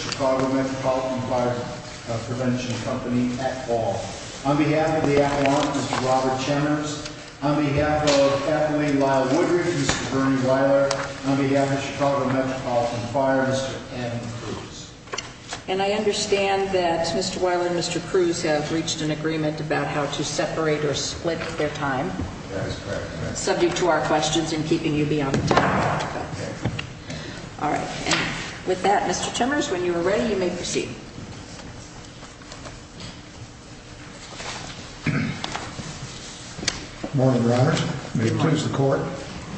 Chicago Metropolitan Fire Prevention Company at Ball. On behalf of the Avalon, Mr. Robert Chenners. On behalf of Kathleen Lisle-Woodridge, Mr. Bernie Weiler. On behalf of Chicago Metropolitan Fire, Mr. Kevin Crews. And I understand that Mr. Weiler and Mr. Crews, in the Chicago Metropolitan Fire Department. have reached an agreement about how to separate or split their time. That is correct. Subject to our questions and keeping you beyond the time. All right. With that, Mr. Chenners, when you are ready, you may proceed. Good morning, Your Honors. May it please the Court,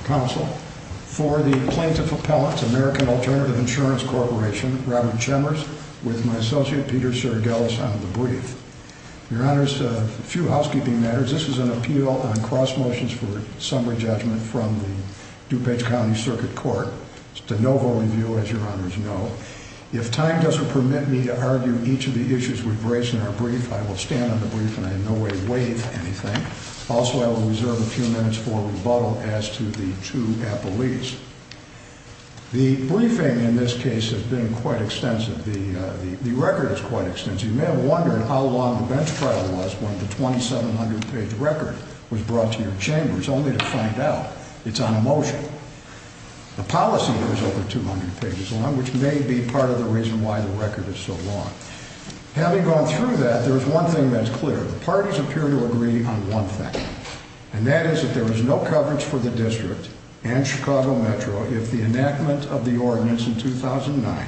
Counsel, for the Plaintiff Appellant to American Alternative Insurance Corporation, Robert Chenners, with my associate, Peter Sergelis, on the brief. Your Honors, a few housekeeping matters. This is an appeal on cross motions for summary judgment from the DuPage County Circuit Court. It's de novo review, as Your Honors know. If time doesn't permit me to argue each of the issues we've raised in our brief, I will stand on the brief and I in no way waive anything. Also, I will reserve a few minutes for rebuttal as to the two appellees. The briefing in this case has been quite extensive. The record is quite extensive. You may have wondered how long the bench trial was, when the 2,700-page record was brought to your chambers, only to find out it's on a motion. The policy is over 200 pages long, which may be part of the reason why the record is so long. Having gone through that, there is one thing that's clear. The parties appear to agree on one thing, and that is that there is no coverage for the District and Chicago Metro if the enactment of the ordinance in 2009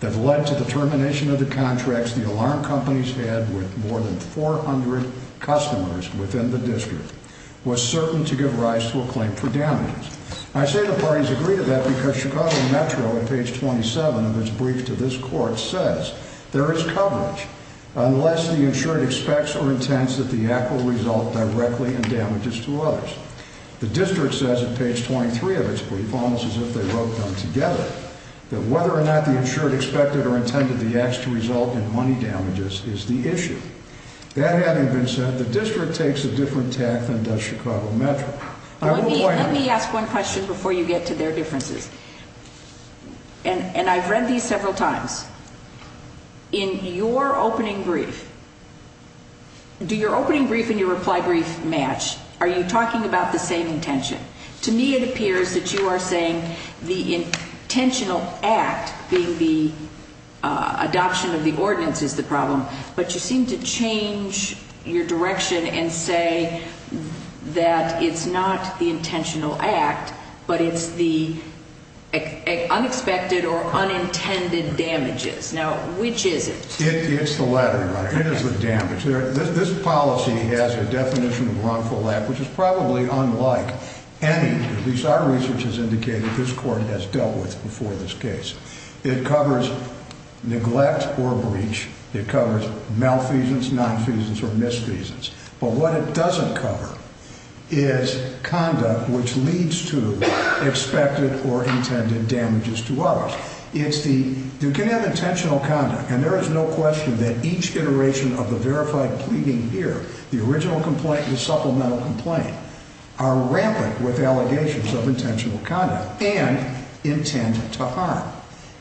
that led to the termination of the contracts the alarm companies had with more than 400 customers within the District was certain to give rise to a claim for damages. I say the parties agree to that because Chicago Metro, on page 27 of its brief to this Court, says there is coverage unless the insured expects or intends that the act will result directly in damages to others. The District says, on page 23 of its brief, almost as if they wrote them together, that whether or not the insured expected or intended the act to result in money damages is the issue. That having been said, the District takes a different tack than does Chicago Metro. Let me ask one question before you get to their differences. And I've read these several times. In your opening brief, do your opening brief and your reply brief match? Are you talking about the same intention? To me, it appears that you are saying the intentional act being the adoption of the ordinance is the problem, but you seem to change your direction and say that it's not the intentional act, but it's the unexpected or unintended damages. Now, which is it? It's the latter. It is the damage. This policy has a definition of wrongful act which is probably unlike any, at least our research has indicated this Court has dealt with before this case. It covers neglect or breach. It covers malfeasance, nonfeasance, or misfeasance. But what it doesn't cover is conduct which leads to expected or intended damages to others. You can have intentional conduct, and there is no question that each iteration of the verified pleading here, the original complaint and the supplemental complaint, are rampant with allegations of intentional conduct and intent to harm.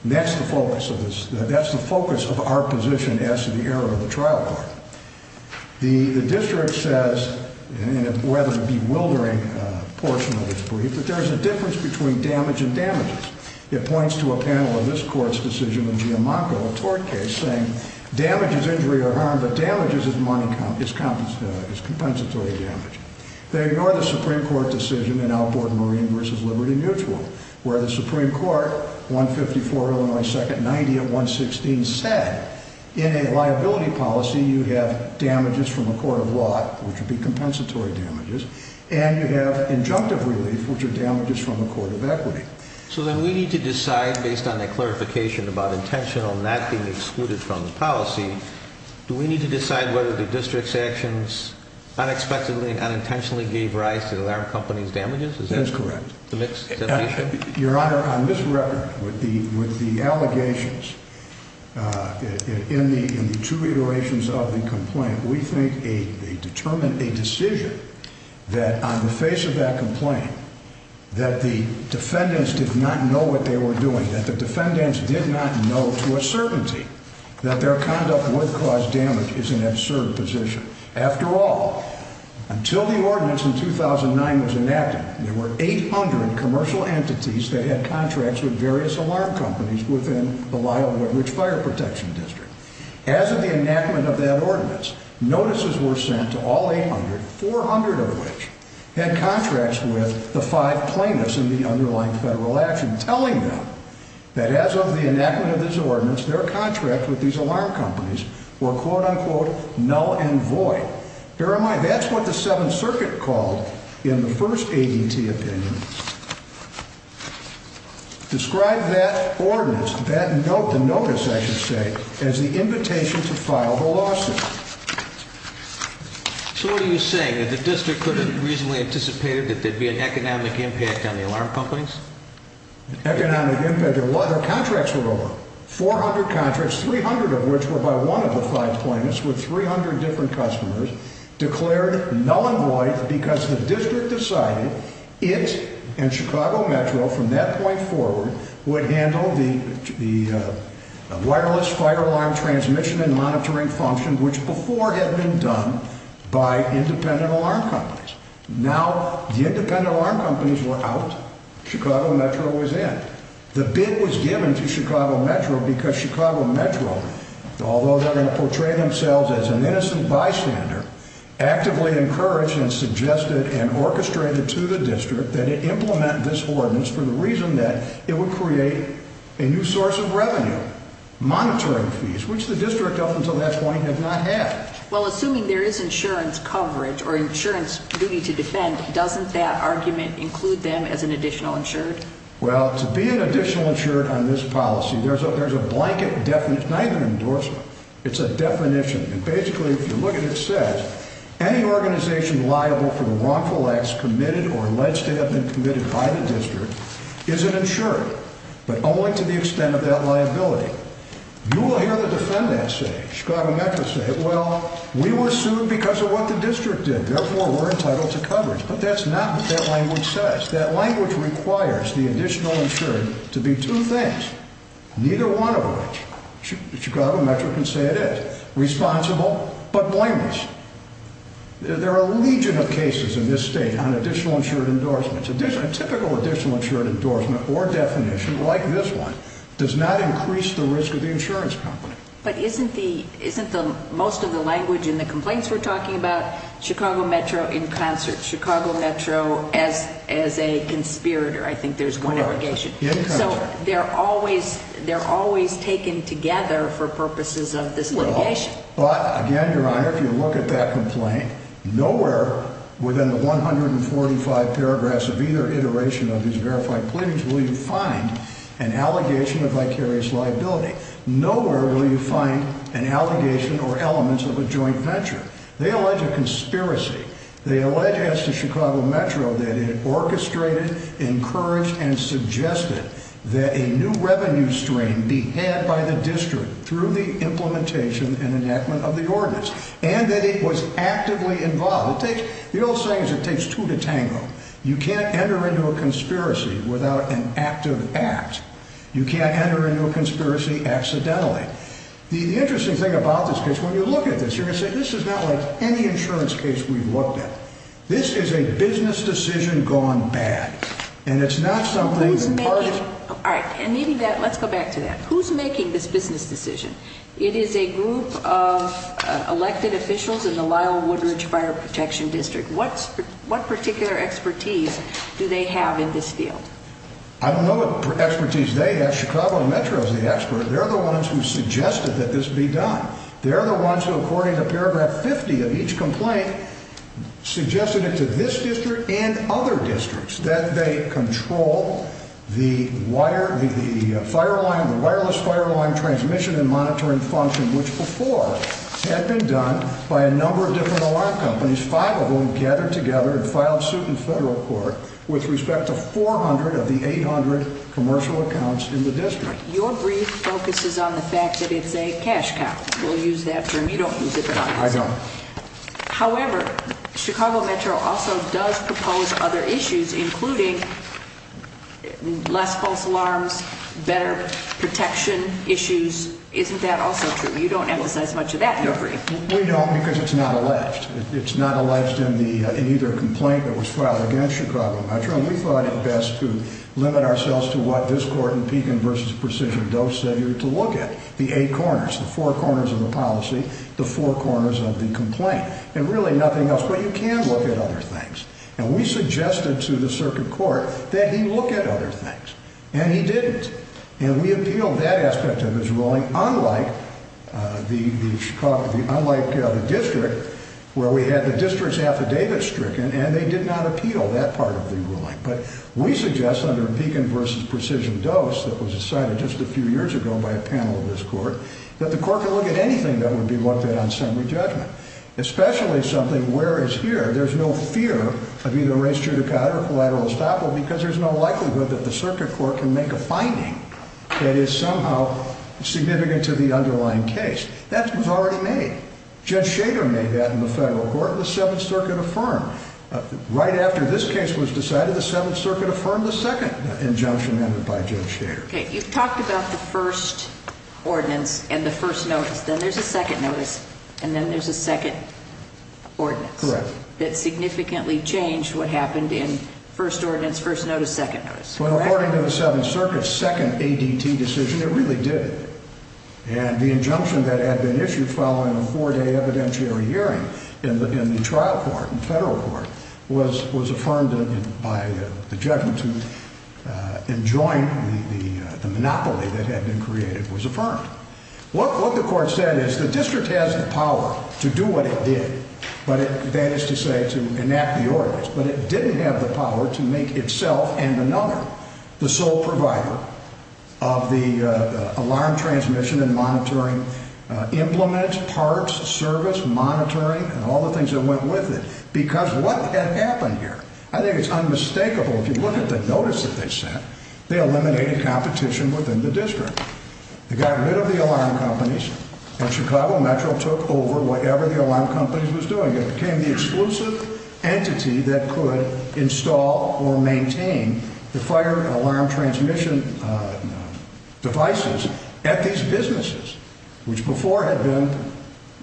That's the focus of our position as to the error of the trial court. The District says, in a rather bewildering portion of its brief, that there is a difference between damage and damages. It points to a panel in this Court's decision in Giammanco, a tort case, saying damage is injury or harm, but damage is compensatory damage. They ignore the Supreme Court decision in Alport Marine v. Liberty Mutual where the Supreme Court, 154 Illinois 2nd, 90 at 116, said in a liability policy you have damages from a court of law which would be compensatory damages, So then we need to decide, based on that clarification about intentional not being excluded from the policy, do we need to decide whether the District's actions unexpectedly and unintentionally gave rise to the alarm company's damages? That is correct. Your Honor, on this record, with the allegations, in the two iterations of the complaint, we think they determined a decision that on the face of that complaint, that the defendants did not know what they were doing, that the defendants did not know to a certainty that their conduct would cause damage is an absurd position. After all, until the ordinance in 2009 was enacted, there were 800 commercial entities that had contracts with various alarm companies within the Lyle-Woodridge Fire Protection District. As of the enactment of that ordinance, notices were sent to all 800, 400 of which had contracts with the five plaintiffs in the underlying federal action, telling them that as of the enactment of this ordinance, their contracts with these alarm companies were, quote-unquote, null and void. Bear in mind, that's what the Seventh Circuit called, in the first ADT opinion, described that ordinance, that notice, I should say, as the invitation to file the lawsuit. So what are you saying? That the district could have reasonably anticipated that there'd be an economic impact on the alarm companies? Economic impact? Their contracts were over. 400 contracts, 300 of which were by one of the five plaintiffs with 300 different customers, declared null and void because the district decided it and Chicago Metro, from that point forward, would handle the wireless fire alarm transmission and monitoring function, which before had been done by independent alarm companies. Now, the independent alarm companies were out. Chicago Metro was in. The bid was given to Chicago Metro because Chicago Metro, although they're going to portray themselves as an innocent bystander, actively encouraged and suggested and orchestrated to the district that it implement this ordinance for the reason that it would create a new source of revenue, monitoring fees, which the district up until that point had not had. Well, assuming there is insurance coverage or insurance duty to defend, doesn't that argument include them as an additional insured? Well, to be an additional insured on this policy, there's a blanket definition. It's not even an endorsement. It's a definition, and basically, if you look at it, it says, any organization liable for the wrongful acts committed or alleged to have been committed by the district is an insured, but only to the extent of that liability. You will hear the defendant say, Chicago Metro said, well, we were sued because of what the district did. Therefore, we're entitled to coverage. But that's not what that language says. That language requires the additional insured to be two things, neither one of which Chicago Metro can say it is, responsible but blameless. There are a legion of cases in this state on additional insured endorsements. A typical additional insured endorsement or definition like this one does not increase the risk of the insurance company. But isn't most of the language in the complaints we're talking about, Chicago Metro in concert, Chicago Metro as a conspirator, I think there's one allegation. So they're always taken together for purposes of this litigation. Well, but again, Your Honor, if you look at that complaint, nowhere within the 145 paragraphs of either iteration of these verified plaintiffs will you find an allegation of vicarious liability. Nowhere will you find an allegation or elements of a joint venture. They allege a conspiracy. They allege as to Chicago Metro that it orchestrated, encouraged, and suggested that a new revenue stream be had by the district through the implementation and enactment of the ordinance and that it was actively involved. The old saying is it takes two to tango. You can't enter into a conspiracy without an active act. You can't enter into a conspiracy accidentally. The interesting thing about this case, when you look at this, you're going to say, this is not like any insurance case we've looked at. This is a business decision gone bad. And it's not some group of parties. All right. Let's go back to that. Who's making this business decision? It is a group of elected officials in the Lyle Woodridge Fire Protection District. What particular expertise do they have in this field? I don't know what expertise they have. Chicago Metro is the expert. They're the ones who suggested that this be done. They're the ones who, according to paragraph 50 of each complaint, suggested it to this district and other districts that they control the wireless fire alarm transmission and monitoring function, which before had been done by a number of different alarm companies, five of whom gathered together and filed suit in federal court with respect to 400 of the 800 commercial accounts in the district. Your brief focuses on the fact that it's a cash count. We'll use that term. You don't use it, but I do. I don't. However, Chicago Metro also does propose other issues, including less false alarms, better protection issues. Isn't that also true? You don't emphasize much of that in your brief. We don't because it's not alleged. It's not alleged in either complaint that was filed against Chicago Metro. We thought it best to limit ourselves to what this court in Pekin v. Precision Doe said you were to look at, the eight corners, the four corners of the policy, the four corners of the complaint, and really nothing else, but you can look at other things. And we suggested to the circuit court that he look at other things, and he didn't. And we appealed that aspect of his ruling, unlike the district, where we had the district's affidavit stricken and they did not appeal that part of the ruling. But we suggest under Pekin v. Precision Doe, that was decided just a few years ago by a panel of this court, that the court could look at anything that would be looked at on summary judgment, especially something where, as here, there's no fear of either race judicata or collateral estoppel because there's no likelihood that the circuit court can make a finding that is somehow significant to the underlying case. That was already made. Judge Shader made that in the federal court and the Seventh Circuit affirmed. Right after this case was decided, the Seventh Circuit affirmed the second injunction amended by Judge Shader. Okay. You've talked about the first ordinance and the first notice. Then there's a second notice, and then there's a second ordinance. Correct. That significantly changed what happened in first ordinance, first notice, second notice. Well, according to the Seventh Circuit's second ADT decision, it really did. And the injunction that had been issued following a four-day evidentiary hearing in the trial court, in federal court, was affirmed by the judgment to enjoin the monopoly that had been created was affirmed. What the court said is the district has the power to do what it did, that is to say, to enact the ordinance, but it didn't have the power to make itself and another the sole provider of the alarm transmission and monitoring implements, parts, service, monitoring, and all the things that went with it. Because what had happened here? I think it's unmistakable. If you look at the notice that they sent, they eliminated competition within the district. They got rid of the alarm companies and Chicago Metro took over whatever the alarm companies was doing. It became the exclusive entity that could install or maintain the fire alarm transmission devices at these businesses, which before had been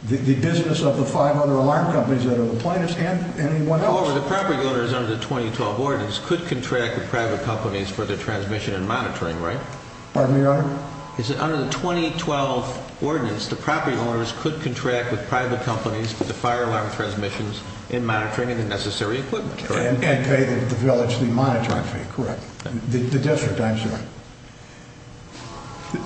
the business of the five other alarm companies that are the plaintiffs and anyone else. However, the property owners under the 2012 ordinance could contract with private companies for their transmission and monitoring, right? Pardon me, Your Honor? Under the 2012 ordinance, the property owners could contract with private companies for the fire alarm transmissions and monitoring and the necessary equipment, correct? And pay the village the monitoring fee, correct? The district, I'm sorry.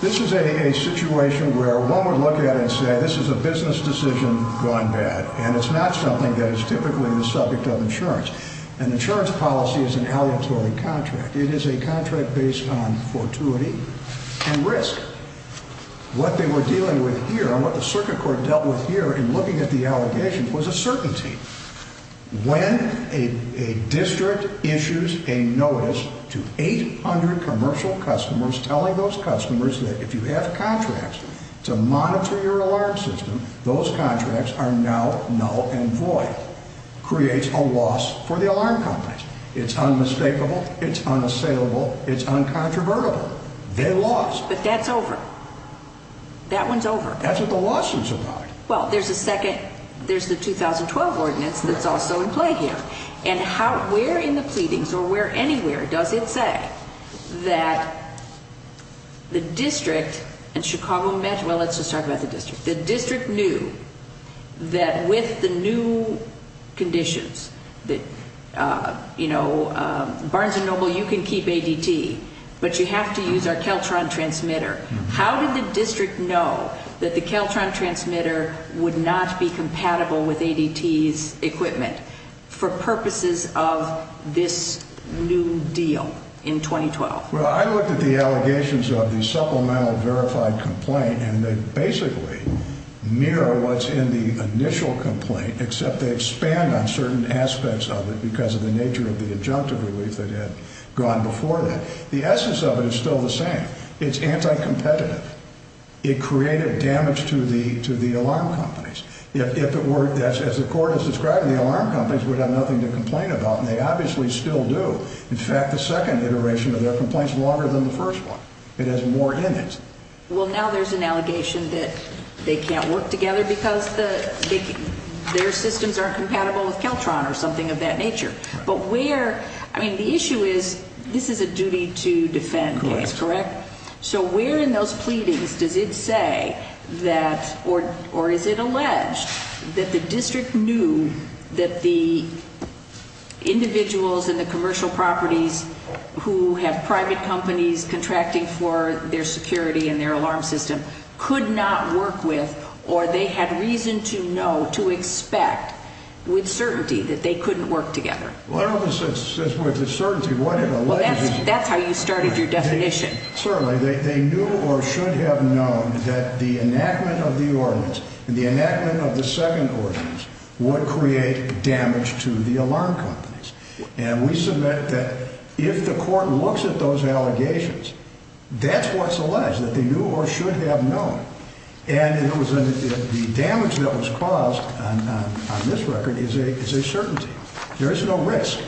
This is a situation where one would look at it and say this is a business decision gone bad, and it's not something that is typically the subject of insurance. An insurance policy is an aleatory contract. It is a contract based on fortuity and risk. What they were dealing with here and what the circuit court dealt with here in looking at the allegations was a certainty. When a district issues a notice to 800 commercial customers telling those customers that if you have contracts to monitor your alarm system, those contracts are now null and void. It creates a loss for the alarm companies. It's unmistakable. It's unassailable. It's uncontrovertible. They lost. But that's over. That one's over. That's what the losses are about. Well, there's a second. There's the 2012 ordinance that's also in play here. And where in the pleadings or where anywhere does it say that the district and Chicago met? Well, let's just talk about the district. The district knew that with the new conditions that, you know, Barnes & Noble, you can keep ADT, but you have to use our Keltron transmitter. How did the district know that the Keltron transmitter would not be compatible with ADT's equipment for purposes of this new deal in 2012? Well, I looked at the allegations of the supplemental verified complaint, and they basically mirror what's in the initial complaint, except they expand on certain aspects of it because of the nature of the adjunctive relief that had gone before that. The essence of it is still the same. It's anti-competitive. It created damage to the alarm companies. If it were, as the court has described, the alarm companies would have nothing to complain about, and they obviously still do. In fact, the second iteration of their complaint is longer than the first one. It has more in it. Well, now there's an allegation that they can't work together because their systems aren't compatible with Keltron or something of that nature. But where – I mean, the issue is this is a duty to defend, correct? Correct. So where in those pleadings does it say that – or is it alleged that the district knew that the individuals in the commercial properties who have private companies contracting for their security and their alarm system could not work with, or they had reason to know, to expect, with certainty, that they couldn't work together? Well, I don't know if it says with certainty. Well, that's how you started your definition. Certainly. They knew or should have known that the enactment of the ordinance and the enactment of the second ordinance would create damage to the alarm companies. And we submit that if the court looks at those allegations, that's what's alleged, that they knew or should have known. And the damage that was caused on this record is a certainty. There is no risk.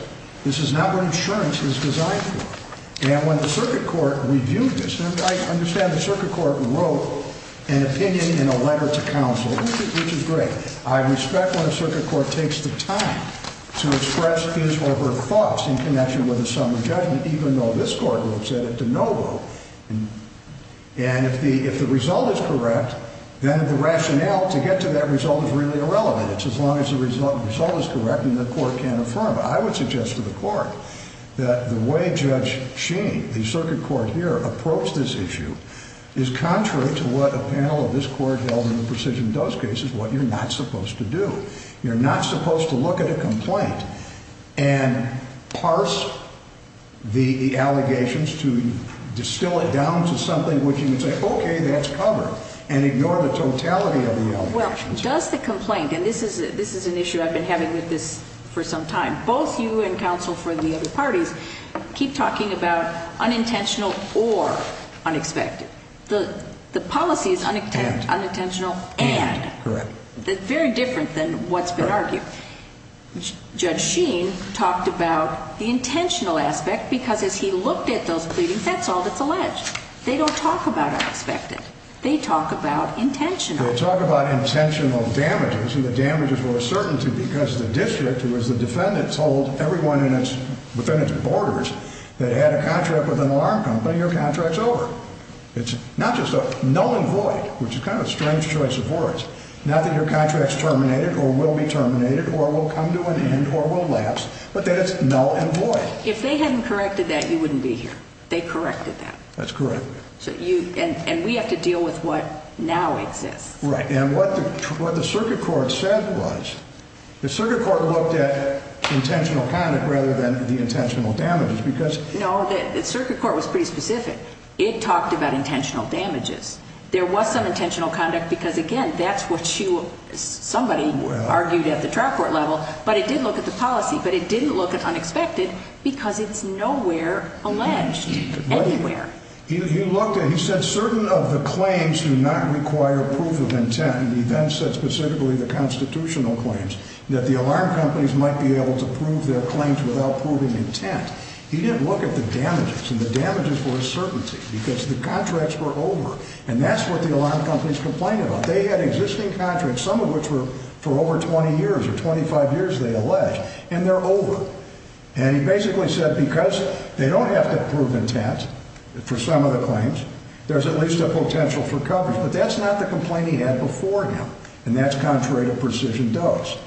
This is not what insurance is designed for. And when the circuit court reviewed this – and I understand the circuit court wrote an opinion in a letter to counsel, which is great. I respect when a circuit court takes the time to express his or her thoughts in connection with a summary judgment, even though this court wrote said it de novo. And if the result is correct, then the rationale to get to that result is really irrelevant. It's as long as the result is correct and the court can affirm it. I would suggest to the court that the way Judge Sheen, the circuit court here, approached this issue is contrary to what a panel of this court held in the precision dose cases, what you're not supposed to do. You're not supposed to look at a complaint and parse the allegations to distill it down to something which you can say, okay, that's covered, and ignore the totality of the allegations. Well, does the complaint – and this is an issue I've been having with this for some time – both you and counsel for the other parties keep talking about unintentional or unexpected. The policy is unintentional and. Correct. Very different than what's been argued. Judge Sheen talked about the intentional aspect because as he looked at those pleadings, that's all that's alleged. They don't talk about unexpected. They talk about intentional. They talk about intentional damages and the damages were a certainty because the district, who is the defendant, told everyone within its borders that had a contract with an alarm company, your contract's over. It's not just null and void, which is kind of a strange choice of words. Not that your contract's terminated or will be terminated or will come to an end or will lapse, but that it's null and void. If they hadn't corrected that, you wouldn't be here. They corrected that. That's correct. And we have to deal with what now exists. Right. And what the circuit court said was the circuit court looked at intentional conduct rather than the intentional damages because – No, the circuit court was pretty specific. It talked about intentional damages. There was some intentional conduct because, again, that's what you – somebody argued at the trial court level, but it did look at the policy. But it didn't look at unexpected because it's nowhere alleged. Anywhere. He looked at – he said certain of the claims do not require proof of intent. And he then said specifically the constitutional claims, that the alarm companies might be able to prove their claims without proving intent. He didn't look at the damages and the damages were a certainty because the contracts were over. And that's what the alarm companies complained about. They had existing contracts, some of which were for over 20 years or 25 years, they allege, and they're over. And he basically said because they don't have to prove intent for some of the claims, there's at least a potential for coverage. But that's not the complaint he had before him, and that's contrary to precision dose.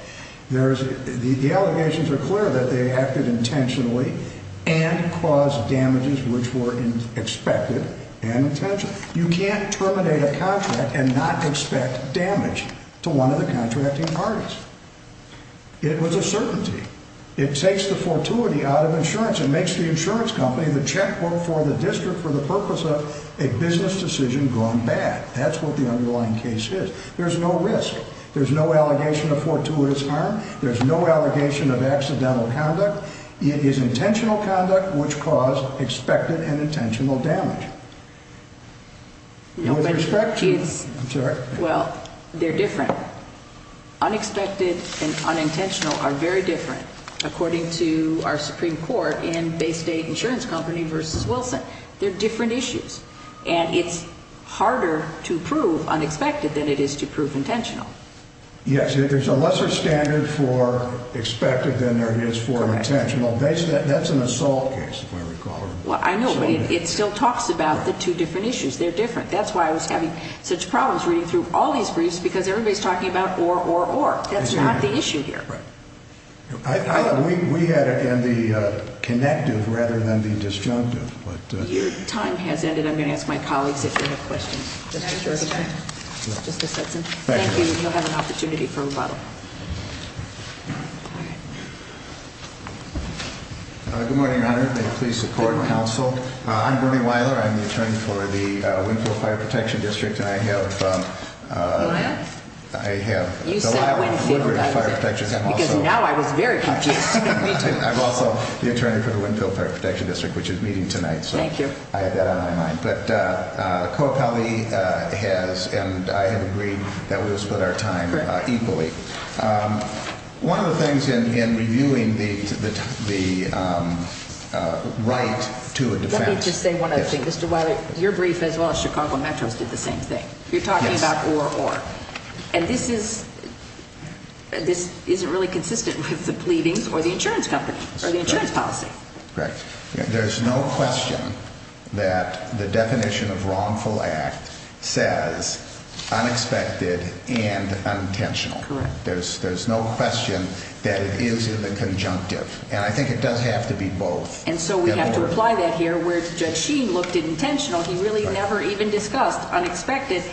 There's – the allegations are clear that they acted intentionally and caused damages which were expected and intentional. You can't terminate a contract and not expect damage to one of the contracting parties. It was a certainty. It takes the fortuity out of insurance. It makes the insurance company the checkbook for the district for the purpose of a business decision gone bad. That's what the underlying case is. There's no risk. There's no allegation of fortuitous harm. There's no allegation of accidental conduct. It is intentional conduct which caused expected and intentional damage. With respect to – I'm sorry. Well, they're different. Unexpected and unintentional are very different, according to our Supreme Court in Bay State Insurance Company v. Wilson. They're different issues, and it's harder to prove unexpected than it is to prove intentional. Yes, there's a lesser standard for expected than there is for intentional. That's an assault case, if I recall. Well, I know, but it still talks about the two different issues. They're different. That's why I was having such problems reading through all these briefs because everybody's talking about or, or, or. That's not the issue here. We had it in the connective rather than the disjunctive. Your time has ended. I'm going to ask my colleagues if they have questions. Can I adjourn the time? Just a second. Thank you. You'll have an opportunity for rebuttal. Good morning, Your Honor. May it please the court and counsel. I'm Bernie Weiler. I'm the attorney for the Windfield Fire Protection District, and I have. You have? I have. You said Windfield. Because now I was very confused. I'm also the attorney for the Windfield Fire Protection District, which is meeting tonight. Thank you. So I had that on my mind. But Coa Pally has, and I have agreed that we will split our time equally. One of the things in reviewing the right to a defense. I need to say one other thing. Mr. Weiler, your brief as well as Chicago Metro's did the same thing. You're talking about or, or. And this isn't really consistent with the pleadings or the insurance company or the insurance policy. Correct. There's no question that the definition of wrongful act says unexpected and unintentional. Correct. There's no question that it is in the conjunctive. And I think it does have to be both. And so we have to apply that here where Judge Sheen looked at intentional. He really never even discussed unexpected.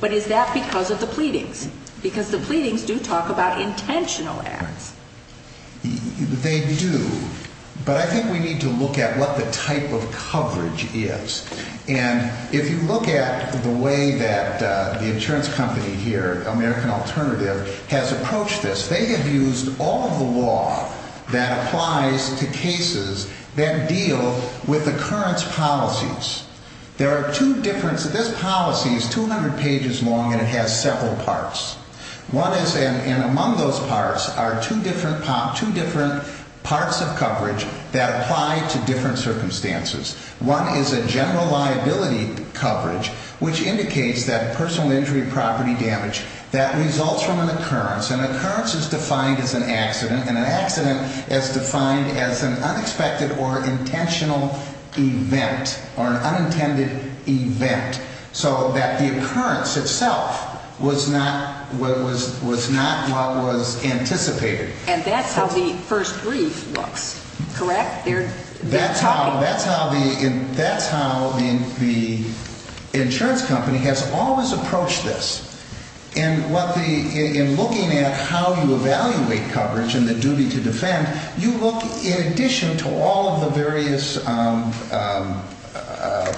But is that because of the pleadings? Because the pleadings do talk about intentional acts. They do. But I think we need to look at what the type of coverage is. And if you look at the way that the insurance company here, American Alternative, has approached this, they have used all of the law that applies to cases that deal with occurrence policies. There are two different, this policy is 200 pages long and it has several parts. One is, and among those parts are two different parts of coverage that apply to different circumstances. One is a general liability coverage which indicates that personal injury property damage that results from an occurrence. An occurrence is defined as an accident. And an accident is defined as an unexpected or intentional event or an unintended event. So that the occurrence itself was not what was anticipated. And that's how the first brief looks, correct? That's how the insurance company has always approached this. And in looking at how you evaluate coverage and the duty to defend, you look in addition to all of the various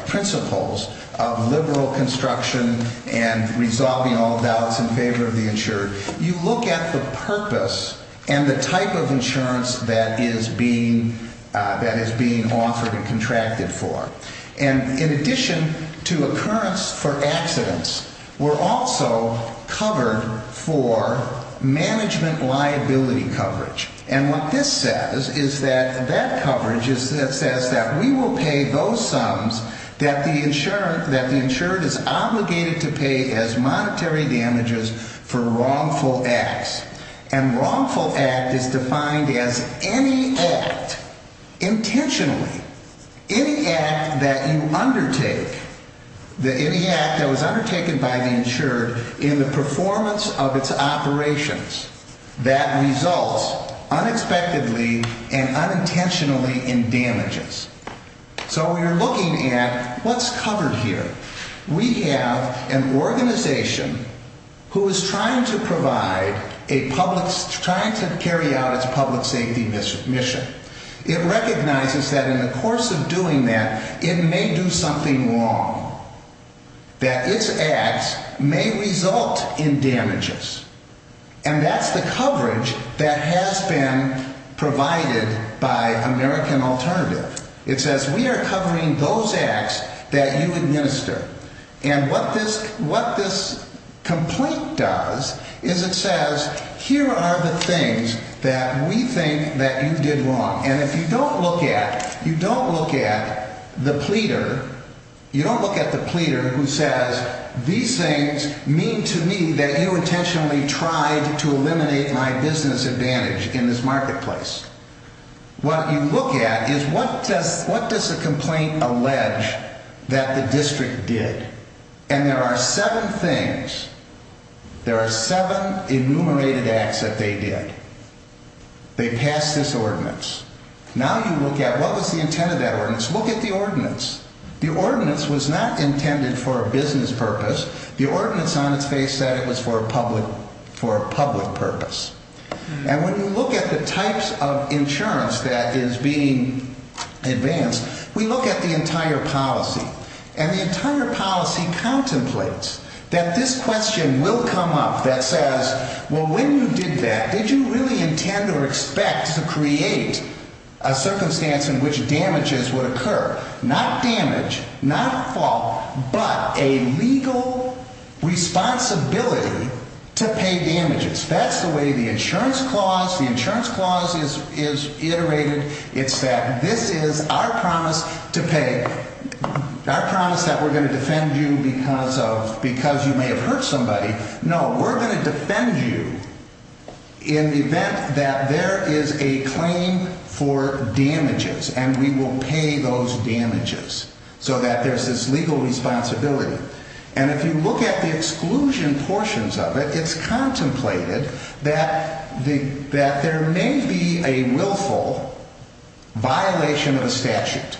principles of liberal construction and resolving all doubts in favor of the insured, you look at the purpose and the type of insurance that is being offered and contracted for. And in addition to occurrence for accidents, we're also covered for management liability coverage. And what this says is that that coverage says that we will pay those sums that the insured is obligated to pay as monetary damages for wrongful acts. And wrongful act is defined as any act, intentionally. Any act that you undertake, any act that was undertaken by the insured in the performance of its operations, that results unexpectedly and unintentionally in damages. So we are looking at what's covered here. We have an organization who is trying to provide a public, trying to carry out its public safety mission. It recognizes that in the course of doing that, it may do something wrong, that its acts may result in damages. And that's the coverage that has been provided by American Alternative. It says we are covering those acts that you administer. And what this complaint does is it says, here are the things that we think that you did wrong. And if you don't look at, you don't look at the pleader, you don't look at the pleader who says, these things mean to me that you intentionally tried to eliminate my business advantage in this marketplace. What you look at is what does a complaint allege that the district did? And there are seven things. There are seven enumerated acts that they did. They passed this ordinance. Now you look at what was the intent of that ordinance. Look at the ordinance. The ordinance was not intended for a business purpose. The ordinance on its face said it was for a public purpose. And when you look at the types of insurance that is being advanced, we look at the entire policy. And the entire policy contemplates that this question will come up that says, well, when you did that, did you really intend or expect to create a circumstance in which damages would occur? Not damage, not a fault, but a legal responsibility to pay damages. That's the way the insurance clause, the insurance clause is iterated. It's that this is our promise to pay, our promise that we're going to defend you because you may have hurt somebody. No, we're going to defend you in the event that there is a claim for damages, and we will pay those damages so that there's this legal responsibility. And if you look at the exclusion portions of it, it's contemplated that there may be a willful violation of the statute.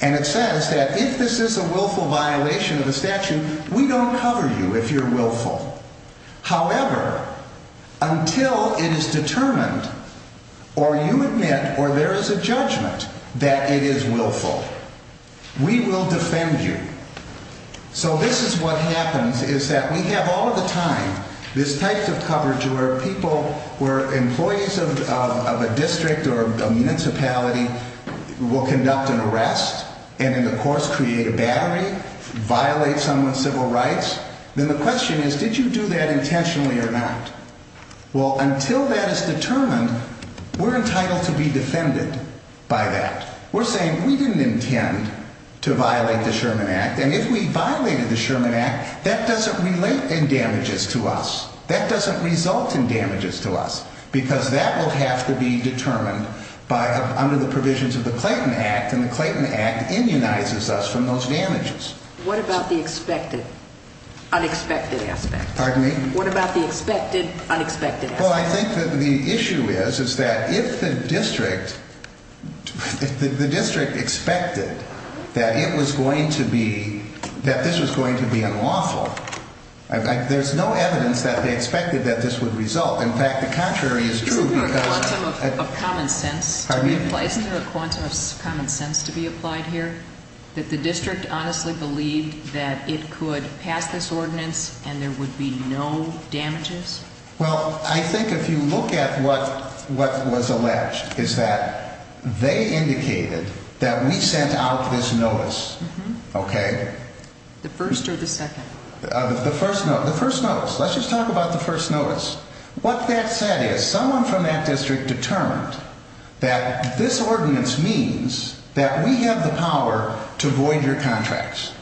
And it says that if this is a willful violation of the statute, we don't cover you if you're willful. However, until it is determined or you admit or there is a judgment that it is willful, we will defend you. So this is what happens is that we have all of the time this type of coverage where people, where employees of a district or a municipality will conduct an arrest and in the course create a battery, violate someone's civil rights. Then the question is, did you do that intentionally or not? Well, until that is determined, we're entitled to be defended by that. We're saying we didn't intend to violate the Sherman Act. And if we violated the Sherman Act, that doesn't relate in damages to us. That doesn't result in damages to us because that will have to be determined under the provisions of the Clayton Act, and the Clayton Act immunizes us from those damages. What about the expected, unexpected aspect? Pardon me? What about the expected, unexpected aspect? Well, I think that the issue is, is that if the district, if the district expected that it was going to be, that this was going to be unlawful, there's no evidence that they expected that this would result. In fact, the contrary is true because... Isn't there a quantum of common sense to be applied here? That the district honestly believed that it could pass this ordinance and there would be no damages? Well, I think if you look at what was alleged, is that they indicated that we sent out this notice, okay? The first or the second? The first notice. Let's just talk about the first notice. What that said is, someone from that district determined that this ordinance means that we have the power to void your contracts.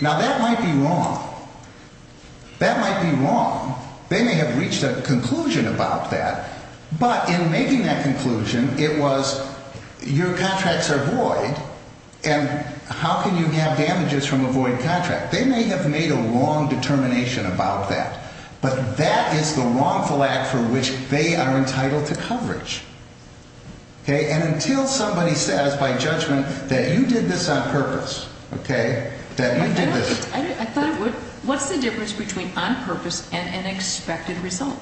Now, that might be wrong. That might be wrong. They may have reached a conclusion about that, but in making that conclusion, it was, your contracts are void, and how can you have damages from a void contract? They may have made a wrong determination about that, but that is the wrongful act for which they are entitled to coverage. Okay? And until somebody says, by judgment, that you did this on purpose, okay, that you did this... What's the difference between on purpose and an expected result?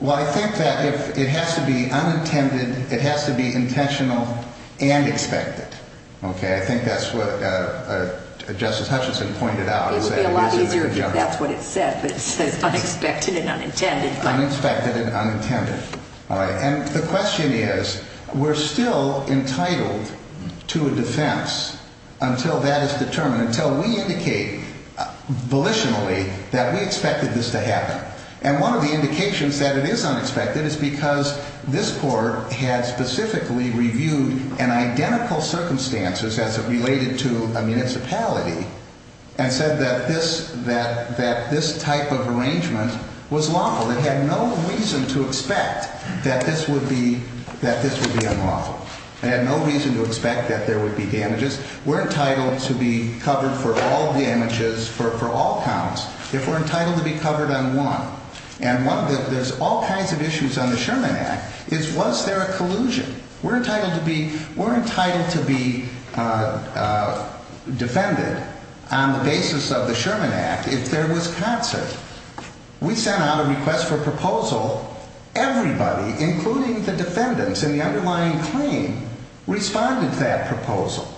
Well, I think that if it has to be unintended, it has to be intentional and expected, okay? I think that's what Justice Hutchinson pointed out. It would be a lot easier if that's what it said, but it says unexpected and unintended. Unexpected and unintended. All right, and the question is, we're still entitled to a defense until that is determined, until we indicate volitionally that we expected this to happen. And one of the indications that it is unexpected is because this court had specifically reviewed an identical circumstances as it related to a municipality and said that this type of arrangement was lawful. It had no reason to expect that this would be unlawful. It had no reason to expect that there would be damages. We're entitled to be covered for all damages, for all counts, if we're entitled to be covered on one. And one of the, there's all kinds of issues on the Sherman Act, is was there a collusion? We're entitled to be, we're entitled to be defended on the basis of the Sherman Act if there was concert. We sent out a request for proposal. Everybody, including the defendants in the underlying claim, responded to that proposal.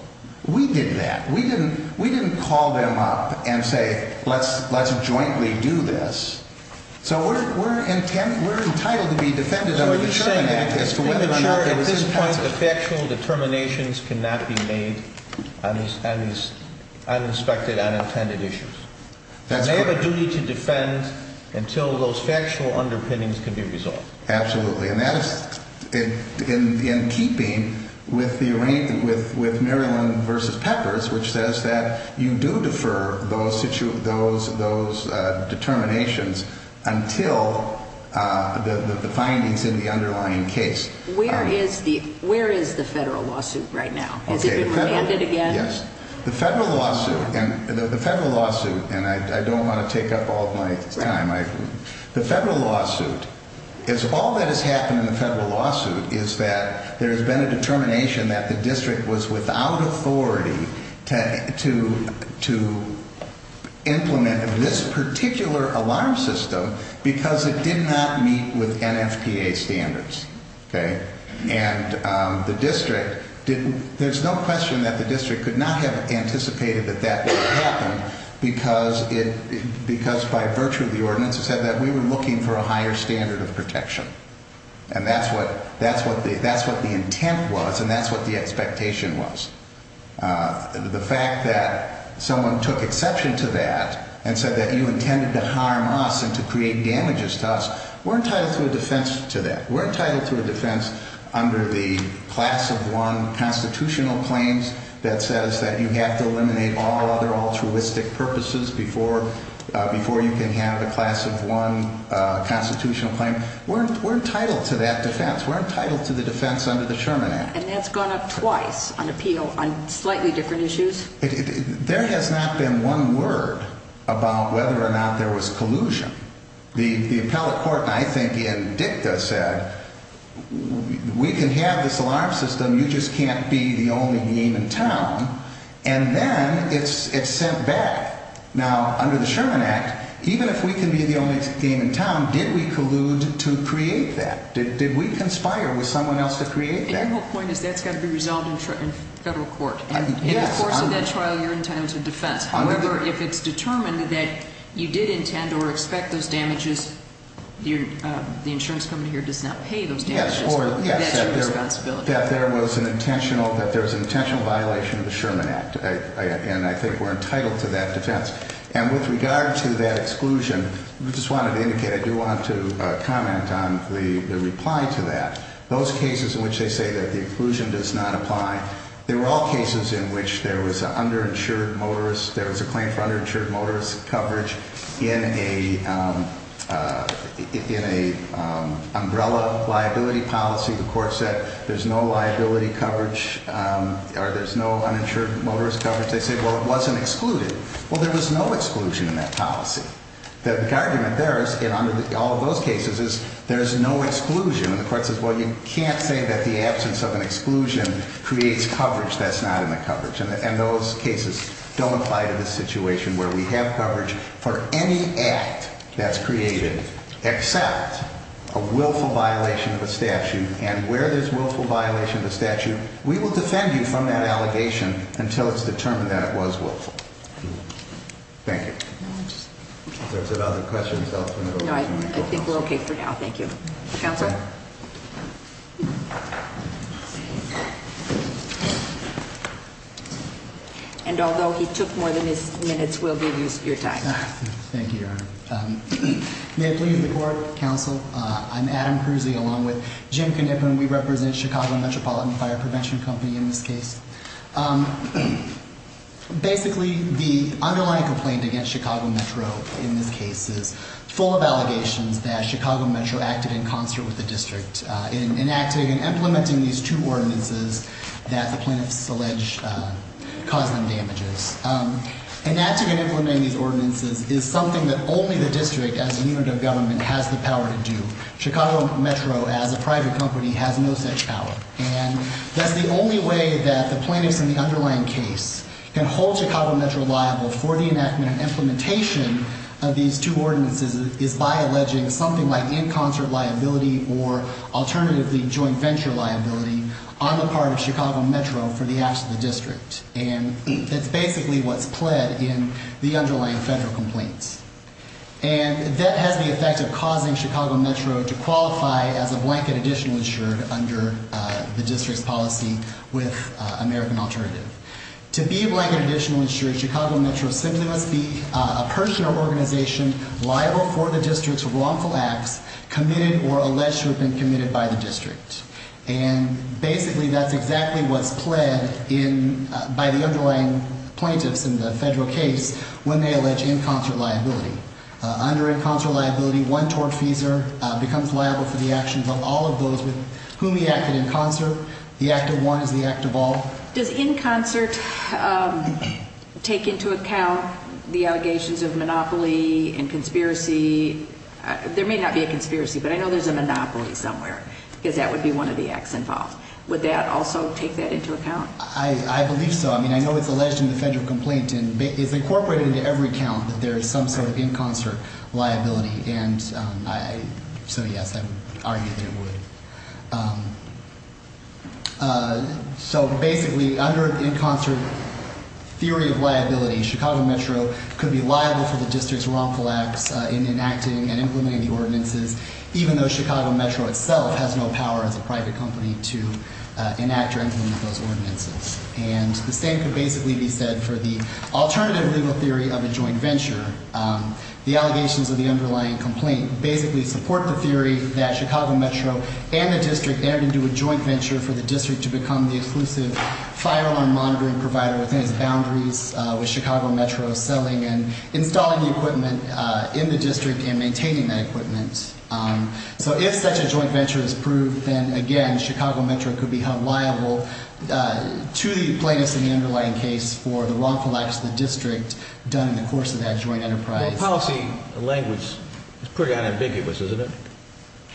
We did that. We didn't, we didn't call them up and say, let's, let's jointly do this. So we're, we're entitled, we're entitled to be defended under the Sherman Act as to whether or not there was a concert. So you're saying, you're ensuring at this point that factual determinations cannot be made on these, on these unexpected, unintended issues. They have a duty to defend until those factual underpinnings can be resolved. Absolutely. And that is in, in, in keeping with the arrangement with, with Maryland versus Peppers, which says that you do defer those situ, those, those determinations until the findings in the underlying case. Where is the, where is the federal lawsuit right now? Has it been remanded again? Yes. The federal lawsuit and the federal lawsuit, and I don't want to take up all of my time. The federal lawsuit is, all that has happened in the federal lawsuit is that there has been a determination that the district was without authority to, to, to implement this particular alarm system because it did not meet with NFPA standards. Okay. And the district didn't, there's no question that the district could not have anticipated that that would happen because it, because by virtue of the ordinance, it said that we were looking for a higher standard of protection. And that's what, that's what the, that's what the intent was. And that's what the expectation was. The fact that someone took exception to that and said that you intended to harm us and to create damages to us, we're entitled to a defense to that. We're entitled to a defense under the class of one constitutional claims that says that you have to eliminate all other altruistic purposes before, before you can have a class of one constitutional claim. We're, we're entitled to that defense. We're entitled to the defense under the Sherman Act. And that's gone up twice on appeal on slightly different issues. There has not been one word about whether or not there was collusion. The, the appellate court I think in dicta said, we can have this alarm system, you just can't be the only game in town. And then it's, it's sent back. Now, under the Sherman Act, even if we can be the only game in town, did we collude to create that? Did, did we conspire with someone else to create that? My whole point is that's got to be resolved in federal court. In the course of that trial, you're entitled to defense. However, if it's determined that you did intend or expect those damages, the insurance company here does not pay those damages. That's your responsibility. That there was an intentional, that there was an intentional violation of the Sherman Act. And I think we're entitled to that defense. And with regard to that exclusion, I just wanted to indicate, I do want to comment on the reply to that. Those cases in which they say that the exclusion does not apply, there were all cases in which there was an underinsured motorist, there was a claim for underinsured motorist coverage in a, in a umbrella liability policy. The court said there's no liability coverage or there's no uninsured motorist coverage. They said, well, it wasn't excluded. Well, there was no exclusion in that policy. The argument there is, in all of those cases, is there's no exclusion. And the court says, well, you can't say that the absence of an exclusion creates coverage that's not in the coverage. And those cases don't apply to this situation where we have coverage for any act that's created except a willful violation of a statute. And where there's willful violation of a statute, we will defend you from that allegation until it's determined that it was willful. Thank you. If there's other questions, I'll turn it over to counsel. No, I think we're okay for now. Thank you. Counsel? And although he took more than his minutes, we'll give you your time. Thank you, Your Honor. May it please the court, counsel? I'm Adam Kruse along with Jim Knippen. We represent Chicago Metropolitan Fire Prevention Company in this case. Basically, the underlying complaint against Chicago Metro in this case is full of allegations that Chicago Metro acted in concert with the district in enacting and implementing these two ordinances that the plaintiffs allege caused them damages. Enacting and implementing these ordinances is something that only the district as a unit of government has the power to do. Chicago Metro, as a private company, has no such power. And that's the only way that the plaintiffs in the underlying case can hold Chicago Metro liable for the enactment and implementation of these two ordinances is by alleging something like in concert liability or alternatively joint venture liability on the part of Chicago Metro for the acts of the district. And that's basically what's pled in the underlying federal complaints. And that has the effect of causing Chicago Metro to qualify as a blanket additional insurer under the district's policy with American Alternative. To be a blanket additional insurer, Chicago Metro simply must be a person or organization liable for the district's wrongful acts committed or alleged to have been committed by the district. And basically that's exactly what's pled in by the underlying plaintiffs in the federal case when they allege in concert liability. Under in concert liability, one tortfeasor becomes liable for the actions of all of those with whom he acted in concert. The act of one is the act of all. Does in concert take into account the allegations of monopoly and conspiracy? There may not be a conspiracy, but I know there's a monopoly somewhere because that would be one of the acts involved. Would that also take that into account? I believe so. I mean, I know it's alleged in the federal complaint and it's incorporated into every count that there is some sort of in concert liability. And so, yes, I would argue that it would. So basically under in concert theory of liability, Chicago Metro could be liable for the district's wrongful acts in enacting and implementing the ordinances, even though Chicago Metro itself has no power as a private company to enact or implement those ordinances. And the same could basically be said for the alternative legal theory of a joint venture. The allegations of the underlying complaint basically support the theory that Chicago Metro and the district entered into a joint venture for the district to become the exclusive fire alarm monitoring provider within its boundaries, with Chicago Metro selling and installing the equipment in the district and maintaining that equipment. So if such a joint venture is proved, then, again, Chicago Metro could be held liable to the plaintiffs in the underlying case for the wrongful acts of the district done in the course of that joint enterprise. Well, policy language is pretty unambiguous, isn't it?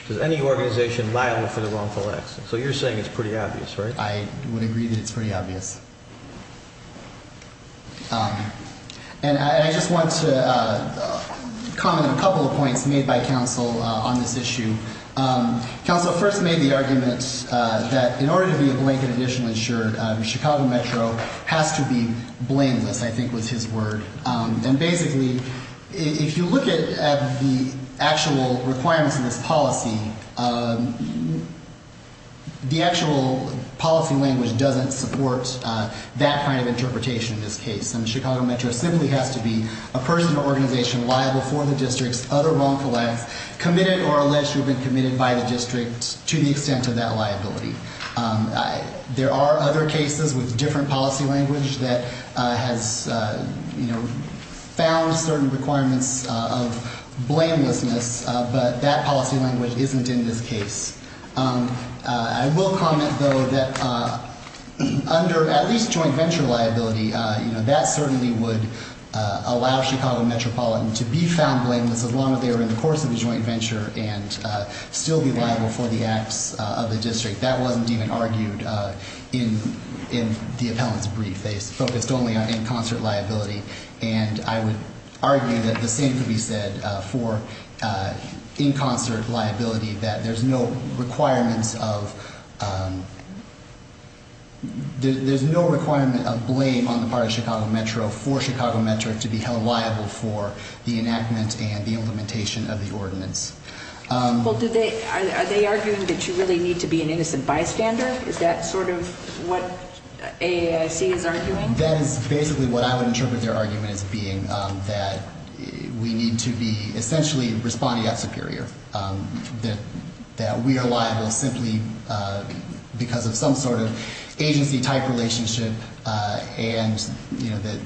Does any organization liable for the wrongful acts? So you're saying it's pretty obvious, right? I would agree that it's pretty obvious. And I just want to comment on a couple of points made by counsel on this issue. Counsel first made the argument that in order to be a blanket additional insured, Chicago Metro has to be blameless, I think was his word. And basically, if you look at the actual requirements of this policy, the actual policy language doesn't support that kind of interpretation in this case. And Chicago Metro simply has to be a person or organization liable for the district's utter wrongful acts, committed or alleged to have been committed by the district to the extent of that liability. There are other cases with different policy language that has found certain requirements of blamelessness, but that policy language isn't in this case. I will comment, though, that under at least joint venture liability, that certainly would allow Chicago Metropolitan to be found blameless as long as they were in the course of the joint venture and still be liable for the acts of the district. That wasn't even argued in the appellant's brief. They focused only on in concert liability. And I would argue that the same could be said for in concert liability, that there's no requirement of blame on the part of Chicago Metro for Chicago Metro to be held liable for the enactment and the implementation of the ordinance. Well, are they arguing that you really need to be an innocent bystander? Is that sort of what AAIC is arguing? That is basically what I would interpret their argument as being, that we need to be essentially respondeat superior, that we are liable simply because of some sort of agency-type relationship and that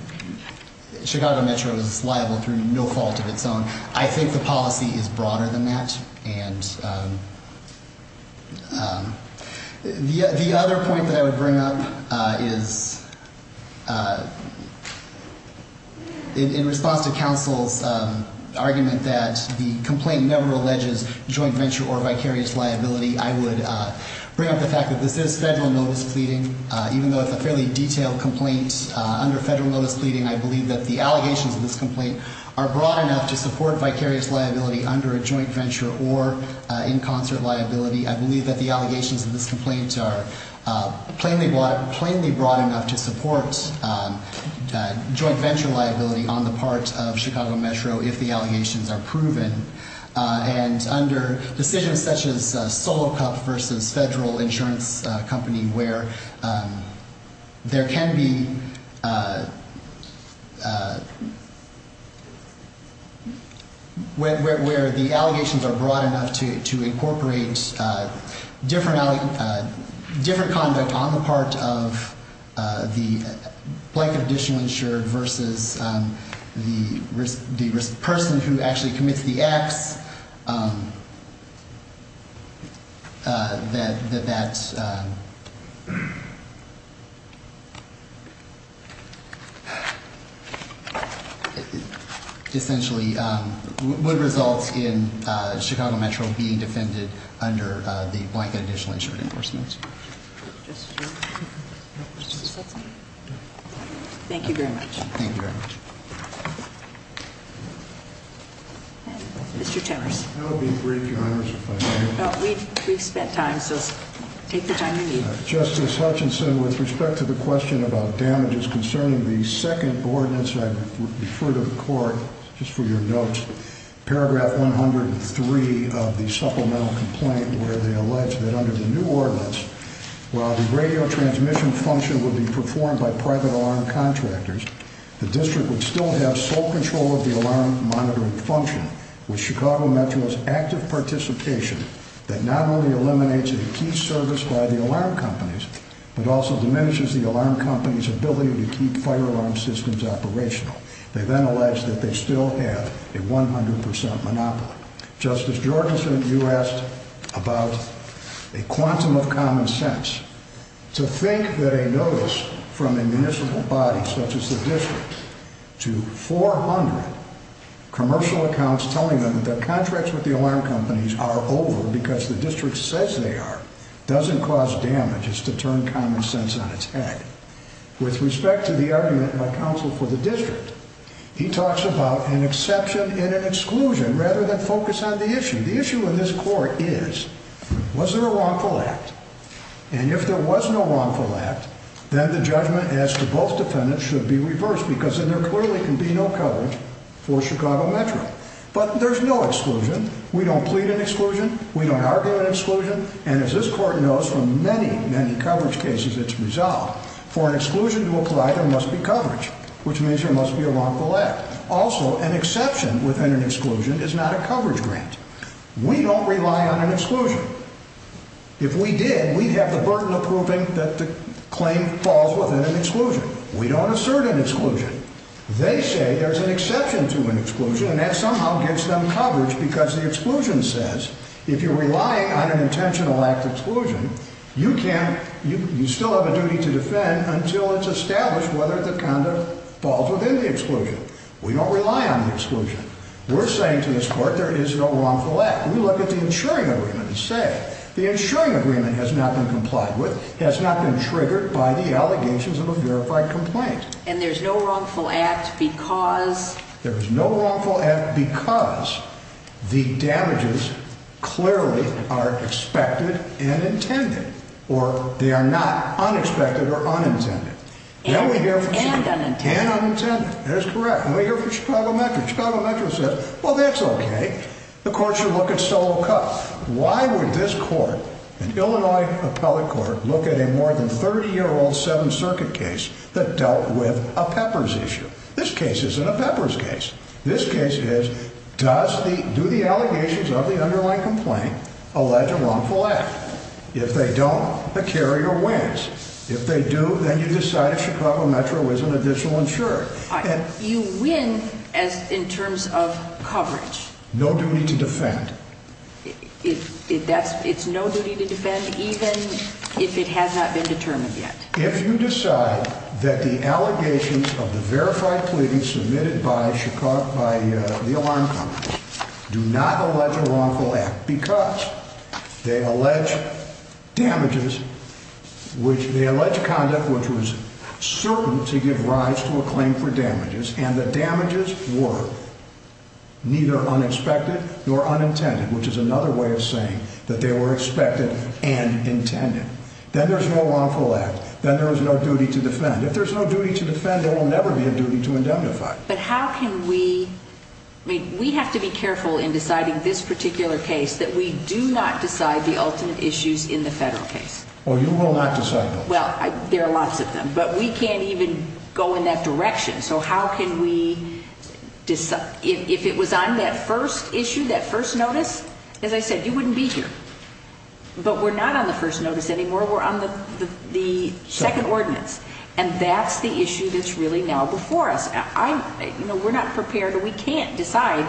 Chicago Metro is liable through no fault of its own. I think the policy is broader than that. And the other point that I would bring up is in response to counsel's argument that the complaint never alleges joint venture or vicarious liability, I would bring up the fact that this is federal notice pleading. Even though it's a fairly detailed complaint under federal notice pleading, I believe that the allegations of this complaint are broad enough to support vicarious liability under a joint venture or in concert liability. I believe that the allegations of this complaint are plainly broad enough to support joint venture liability on the part of Chicago Metro if the allegations are proven. And under decisions such as Solo Cup versus federal insurance company where there can be, where the allegations are broad enough to incorporate different conduct on the part of the blanket additional insured versus the person who actually commits the acts, that essentially would result in Chicago Metro being defended under the blanket additional insured enforcement. Thank you very much. Thank you very much. Mr. Timmers. We've spent time, so take the time you need. Justice Hutchinson, with respect to the question about damages concerning the second ordinance, I refer to the court just for your notes. Paragraph 103 of the supplemental complaint where they allege that under the new ordinance, while the radio transmission function would be performed by private alarm contractors, the district would still have sole control of the alarm monitoring function with Chicago Metro's active participation that not only eliminates a key service by the alarm companies, but also diminishes the alarm company's ability to keep fire alarm systems operational. They then allege that they still have a 100% monopoly. Justice Georgeson, you asked about a quantum of common sense. To think that a notice from a municipal body such as the district to 400 commercial accounts telling them that their contracts with the alarm companies are over because the district says they are, doesn't cause damages to turn common sense on its head. With respect to the argument by counsel for the district, he talks about an exception and an exclusion rather than focus on the issue. The issue in this court is, was there a wrongful act? And if there was no wrongful act, then the judgment as to both defendants should be reversed because then there clearly can be no coverage for Chicago Metro. But there's no exclusion. We don't argue an exclusion. And as this court knows from many, many coverage cases, it's resolved. For an exclusion to apply, there must be coverage, which means there must be a wrongful act. Also, an exception within an exclusion is not a coverage grant. We don't rely on an exclusion. If we did, we'd have the burden of proving that the claim falls within an exclusion. We don't assert an exclusion. They say there's an exception to an exclusion, and that somehow gives them coverage because the exclusion says if you're relying on an intentional act exclusion, you still have a duty to defend until it's established whether the conduct falls within the exclusion. We don't rely on the exclusion. We're saying to this court there is no wrongful act. We look at the insuring agreement and say the insuring agreement has not been complied with, has not been triggered by the allegations of a verified complaint. And there's no wrongful act because? There is no wrongful act because the damages clearly are expected and intended, or they are not unexpected or unintended. And unintended. That is correct. And we hear from Chicago Metro. Chicago Metro says, well, that's okay. The court should look at solo cuts. Why would this court, an Illinois appellate court, look at a more than 30-year-old Seventh Circuit case that dealt with a peppers issue? This case isn't a peppers case. This case is, do the allegations of the underlying complaint allege a wrongful act? If they don't, the carrier wins. If they do, then you decide if Chicago Metro is an additional insurer. You win in terms of coverage. No duty to defend. It's no duty to defend even if it has not been determined yet. If you decide that the allegations of the verified pleading submitted by the alarm company do not allege a wrongful act because they allege damages, they allege conduct which was certain to give rise to a claim for damages, and the damages were neither unexpected nor unintended, which is another way of saying that they were expected and intended, then there's no wrongful act, then there is no duty to defend. If there's no duty to defend, there will never be a duty to indemnify. But how can we, I mean, we have to be careful in deciding this particular case that we do not decide the ultimate issues in the federal case. Well, you will not decide those. Well, there are lots of them, but we can't even go in that direction. So how can we decide, if it was on that first issue, that first notice, as I said, you wouldn't be here. But we're not on the first notice anymore. We're on the second ordinance, and that's the issue that's really now before us. We're not prepared, and we can't decide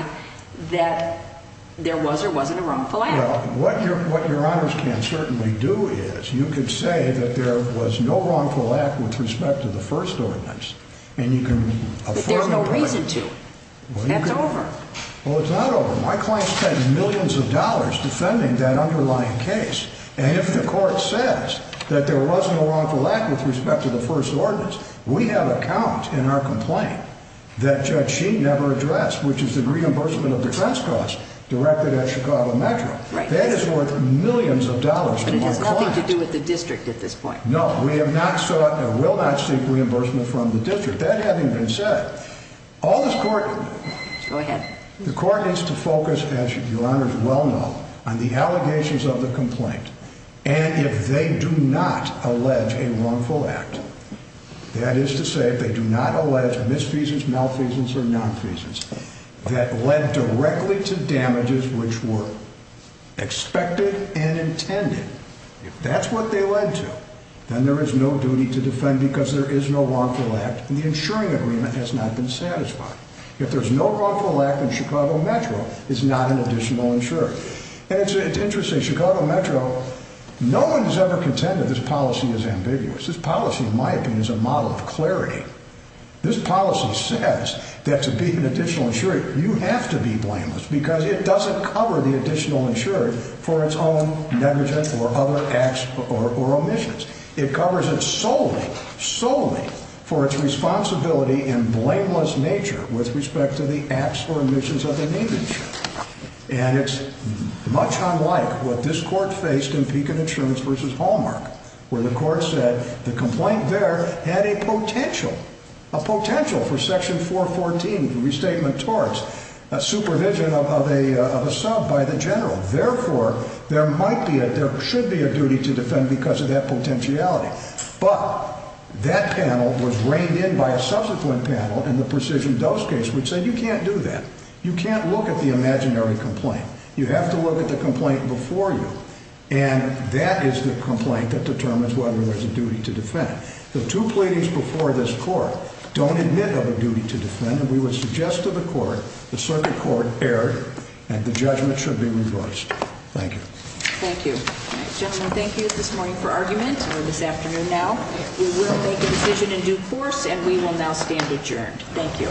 that there was or wasn't a wrongful act. Well, what Your Honors can certainly do is you can say that there was no wrongful act with respect to the first ordinance, and you can afford to do it. But there's no reason to. That's over. Well, it's not over. My client spent millions of dollars defending that underlying case, and if the court says that there wasn't a wrongful act with respect to the first ordinance, we have a count in our complaint that Judge Sheen never addressed, which is the reimbursement of defense costs directed at Chicago Metro. That is worth millions of dollars to my client. But it has nothing to do with the district at this point. With that having been said, the court needs to focus, as Your Honors well know, on the allegations of the complaint, and if they do not allege a wrongful act, that is to say if they do not allege misfeasance, malfeasance, or nonfeasance that led directly to damages which were expected and intended, if that's what they led to, then there is no duty to defend because there is no wrongful act, and the insuring agreement has not been satisfied. If there's no wrongful act, then Chicago Metro is not an additional insurer. And it's interesting. Chicago Metro, no one has ever contended this policy is ambiguous. This policy, in my opinion, is a model of clarity. This policy says that to be an additional insurer, you have to be blameless because it doesn't cover the additional insurer for its own negligence or other acts or omissions. It covers it solely, solely for its responsibility in blameless nature with respect to the acts or omissions of the negligent. And it's much unlike what this court faced in Pekin Insurance v. Hallmark where the court said the complaint there had a potential, a potential for Section 414 restatement towards supervision of a sub by the general. Therefore, there should be a duty to defend because of that potentiality. But that panel was reined in by a subsequent panel in the Precision Dose case which said you can't do that. You can't look at the imaginary complaint. You have to look at the complaint before you, and that is the complaint that determines whether there's a duty to defend. The two pleadings before this court don't admit of a duty to defend, and we would suggest to the court the circuit court erred, and the judgment should be reversed. Thank you. Thank you. Gentlemen, thank you this morning for argument and this afternoon now. We will make a decision in due course, and we will now stand adjourned. Thank you.